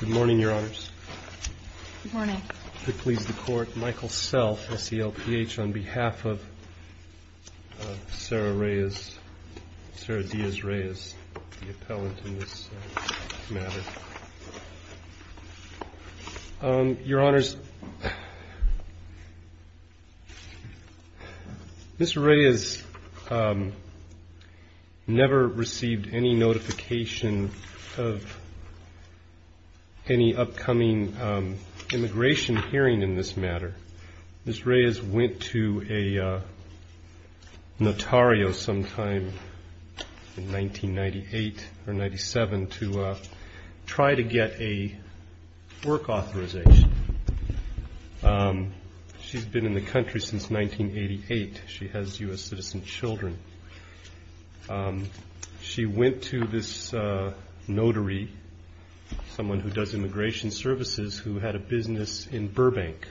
Good morning, Your Honors. Good morning. I plead with the Court, Michael Self, SELPH, on behalf of Sarah Reyes, Sarah Diaz Reyes, the appellant in this matter. Your Honors, Mr. Reyes never received any notification of any upcoming immigration hearing in this case. She's been in the country since 1988. She has U.S. citizen children. She went to this notary, someone who does immigration services, who had a business in Burbank.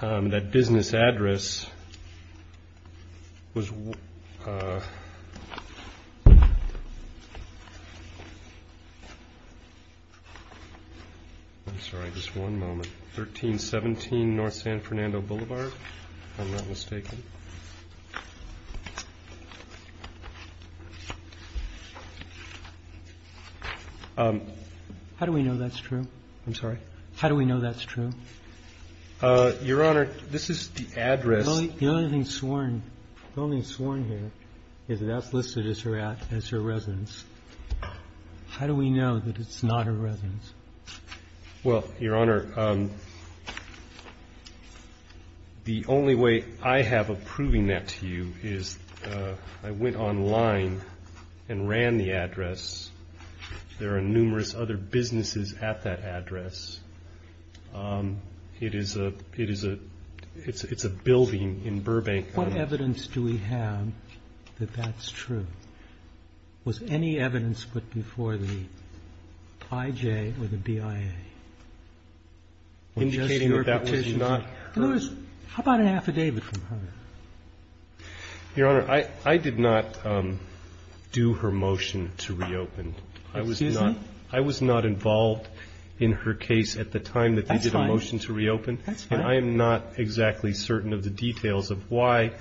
That business address was, I'm sorry, just one moment, 1317 North San Fernando Blvd., if I'm not mistaken. How do we know that's true? I'm sorry. How do we know that's true? Your Honor, this is the address. The only thing sworn here is that that's listed as her residence. How do we know that it's not her residence? Well, Your Honor, the only way I have of proving that to you is I went online and ran the address. There are numerous other businesses at that address. It is a building in Burbank. What evidence do we have that that's true? Was any evidence put before the IJ or the BIA? Indicating that that was not her? How about an affidavit from her? Your Honor, I did not do her motion to reopen. Excuse me? I was not involved in her case at the time that they did a motion to reopen. That's fine. That's fine. And I am not exactly certain of the details of why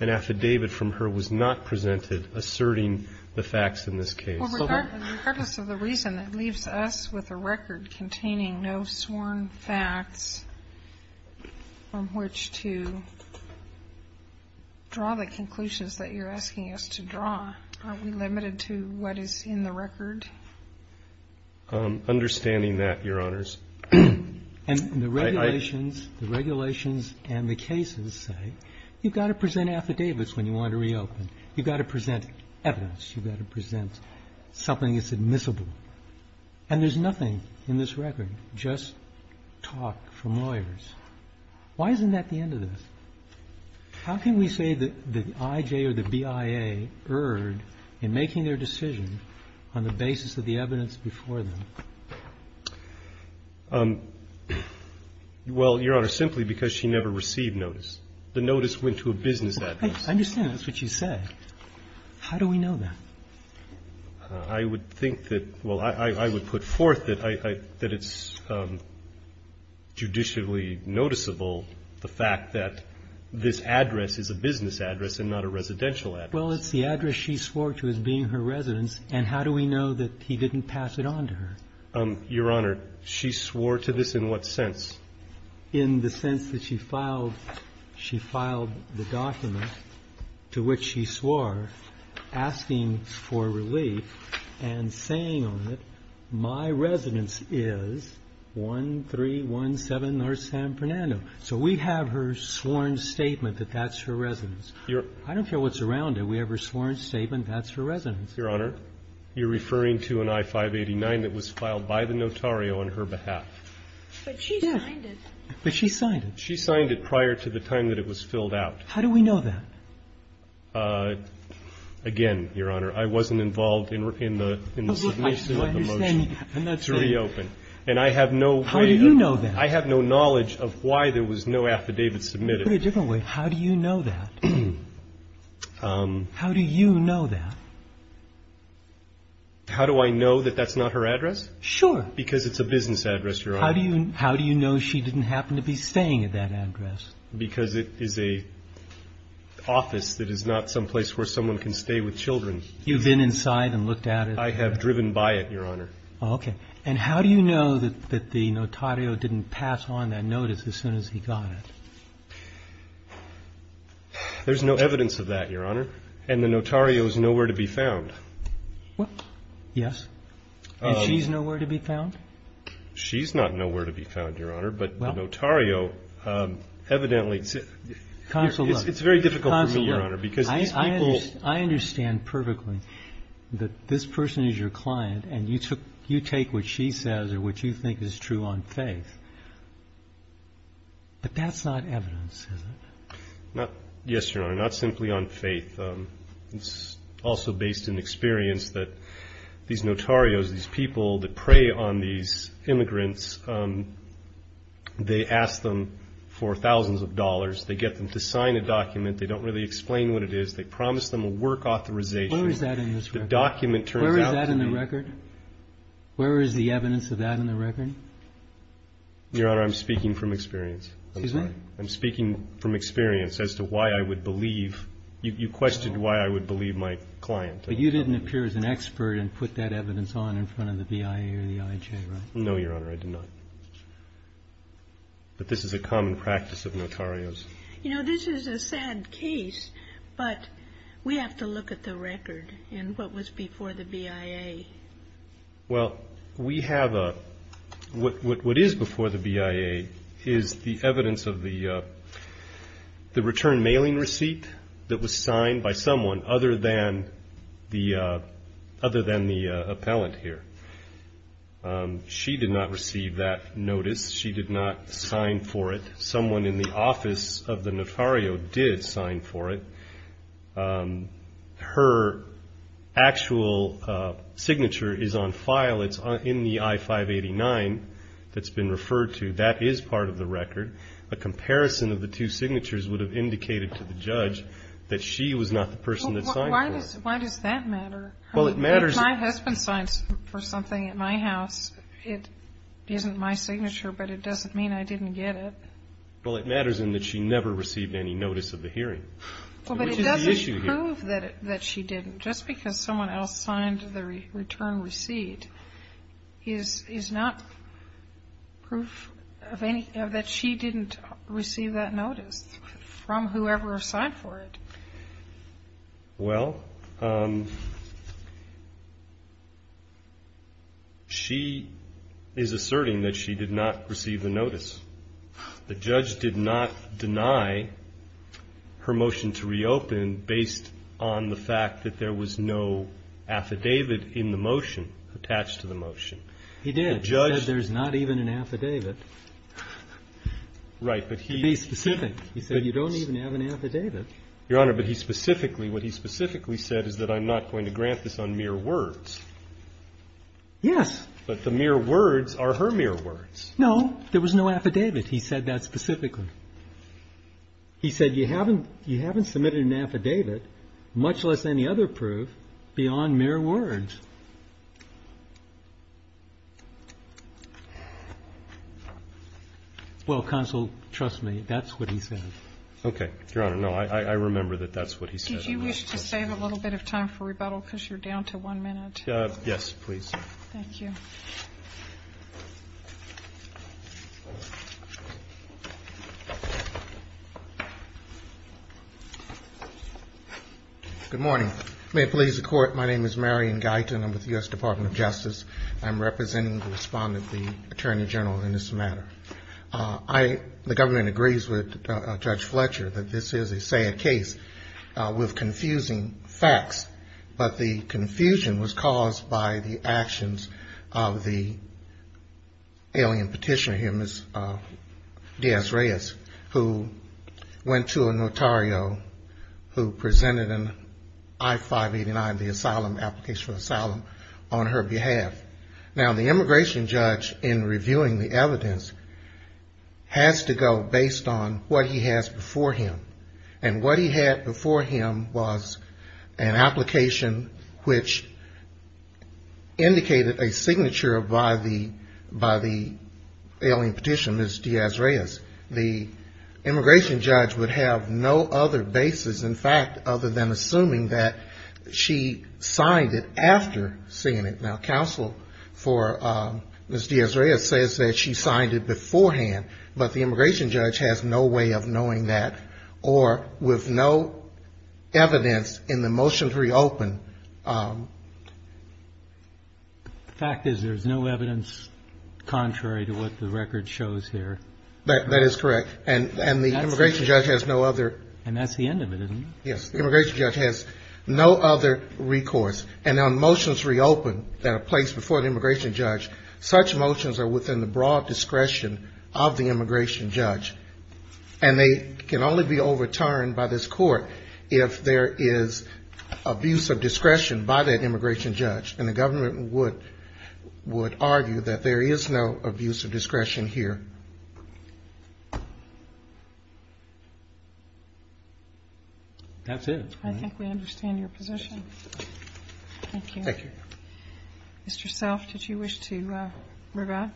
an affidavit from her was not presented asserting the facts in this case. Well, regardless of the reason, it leaves us with a record containing no sworn facts from which to draw the conclusions that you're asking us to draw. Are we limited to what is in the record? Understanding that, Your Honors. And the regulations, the regulations and the cases say you've got to present affidavits when you want to reopen. You've got to present evidence. You've got to present something that's admissible. And there's nothing in this record, just talk from lawyers. Why isn't that the end of this? How can we say that the IJ or the BIA erred in making their decision on the basis of the evidence before them? Well, Your Honor, simply because she never received notice. The notice went to a business adviser. I understand. That's what you said. How do we know that? I would think that, well, I would put forth that it's judicially noticeable, the fact that this address is a business address and not a residential address. Well, it's the address she swore to as being her residence, and how do we know that he didn't pass it on to her? Your Honor, she swore to this in what sense? In the sense that she filed the document to which she swore, asking for relief and saying on it, my residence is 1317 North San Fernando. So we have her sworn statement that that's her residence. I don't care what's around it. We have her sworn statement that's her residence. Your Honor, you're referring to an I-589 that was filed by the notario on her behalf. But she signed it. Yeah. But she signed it. She signed it prior to the time that it was filled out. How do we know that? Again, Your Honor, I wasn't involved in the submission of the motion to reopen. And I have no way of knowing. How do you know that? I have no knowledge of why there was no affidavit submitted. Put it a different way. How do you know that? How do you know that? How do I know that that's not her address? Sure. Because it's a business address, Your Honor. How do you know she didn't happen to be staying at that address? Because it is an office that is not someplace where someone can stay with children. You've been inside and looked at it? I have driven by it, Your Honor. Okay. And how do you know that the notario didn't pass on that notice as soon as he got it? There's no evidence of that, Your Honor. And the notario is nowhere to be found. What? Yes. And she's nowhere to be found? She's not nowhere to be found, Your Honor. But the notario, evidently, it's very difficult for me, Your Honor. I understand perfectly that this person is your client, and you take what she says or what you think is true on faith. But that's not evidence, is it? Yes, Your Honor. Not simply on faith. It's also based in experience that these notarios, these people that prey on these immigrants, they ask them for thousands of dollars. They get them to sign a document. They don't really explain what it is. They promise them a work authorization. Where is that in this record? The document turns out to be. Where is that in the record? Where is the evidence of that in the record? Your Honor, I'm speaking from experience. Excuse me? I'm speaking from experience as to why I would believe. You questioned why I would believe my client. But you didn't appear as an expert and put that evidence on in front of the BIA or the IJ, right? No, Your Honor, I did not. But this is a common practice of notarios. You know, this is a sad case, but we have to look at the record and what was before the BIA. Well, we have a what is before the BIA is the evidence of the return mailing receipt that was signed by someone other than the appellant here. She did not receive that notice. She did not sign for it. Someone in the office of the notario did sign for it. Her actual signature is on file. It's in the I-589 that's been referred to. That is part of the record. A comparison of the two signatures would have indicated to the judge that she was not the person that signed for it. Why does that matter? Well, it matters. If my husband signs for something at my house, it isn't my signature, but it doesn't mean I didn't get it. Well, it matters in that she never received any notice of the hearing. Well, but it doesn't prove that she didn't. Just because someone else signed the return receipt is not proof that she didn't receive that notice from whoever signed for it. Well, she is asserting that she did not receive the notice. The judge did not deny her motion to reopen based on the fact that there was no affidavit in the motion attached to the motion. He did. The judge said there's not even an affidavit. Right. To be specific, he said you don't even have an affidavit. Your Honor, but he specifically, what he specifically said is that I'm not going to grant this on mere words. Yes. But the mere words are her mere words. No, there was no affidavit. He said that specifically. He said you haven't submitted an affidavit, much less any other proof, beyond mere words. Well, Counsel, trust me, that's what he said. Okay. Your Honor, no, I remember that that's what he said. Did you wish to save a little bit of time for rebuttal because you're down to one minute? Yes, please. Thank you. Good morning. May it please the Court, my name is Marion Guyton. I'm with the U.S. Department of Justice. I'm representing the respondent, the Attorney General, in this matter. The government agrees with Judge Fletcher that this is a sad case with confusing facts, but the confusion was caused by the actions of the alien petitioner here, Ms. Diaz-Reyes, who went to a notario who presented an I-589, the asylum, application for asylum, on her behalf. Now, the immigration judge, in reviewing the evidence, has to go based on what he has before him, and what he had before him was an application which indicated a signature by the alien petitioner, Ms. Diaz-Reyes. The immigration judge would have no other basis, in fact, other than assuming that she signed it after seeing it. Now, Counsel for Ms. Diaz-Reyes says that she signed it beforehand, but the immigration judge has no way of knowing that, or with no evidence in the motions reopened. The fact is there's no evidence contrary to what the record shows here. That is correct. And the immigration judge has no other. And that's the end of it, isn't it? Yes. The immigration judge has no other recourse. And on motions reopened that are placed before the immigration judge, such motions are within the broad discretion of the immigration judge. And they can only be overturned by this Court if there is abuse of discretion by that immigration judge. And the government would argue that there is no abuse of discretion here. That's it. I think we understand your position. Thank you. Thank you. Mr. Self, did you wish to rebut?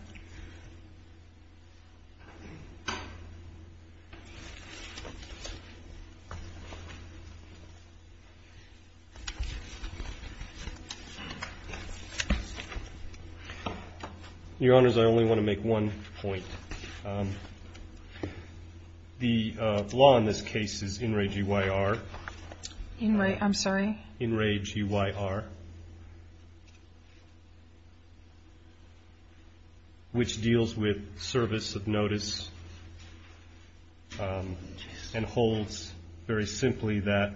Your Honors, I only want to make one point. The law in this case is in re-G-Y-R. In re-I'm sorry? In re-G-Y-R. Which deals with service of notice and holds very simply that,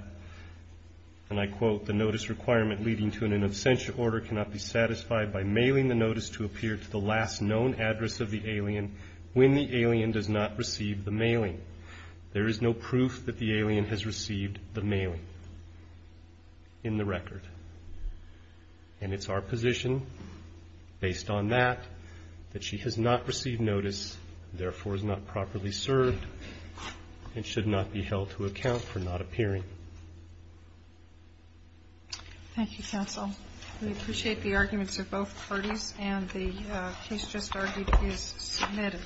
and I quote, the notice requirement leading to an in absentia order cannot be satisfied by mailing the notice to appear to the last known address of the alien when the alien does not receive the mailing. There is no proof that the alien has received the mailing in the record. And it's our position, based on that, that she has not received notice, therefore is not properly served and should not be held to account for not appearing. Thank you, counsel. We appreciate the arguments of both parties. And the case just argued is submitted.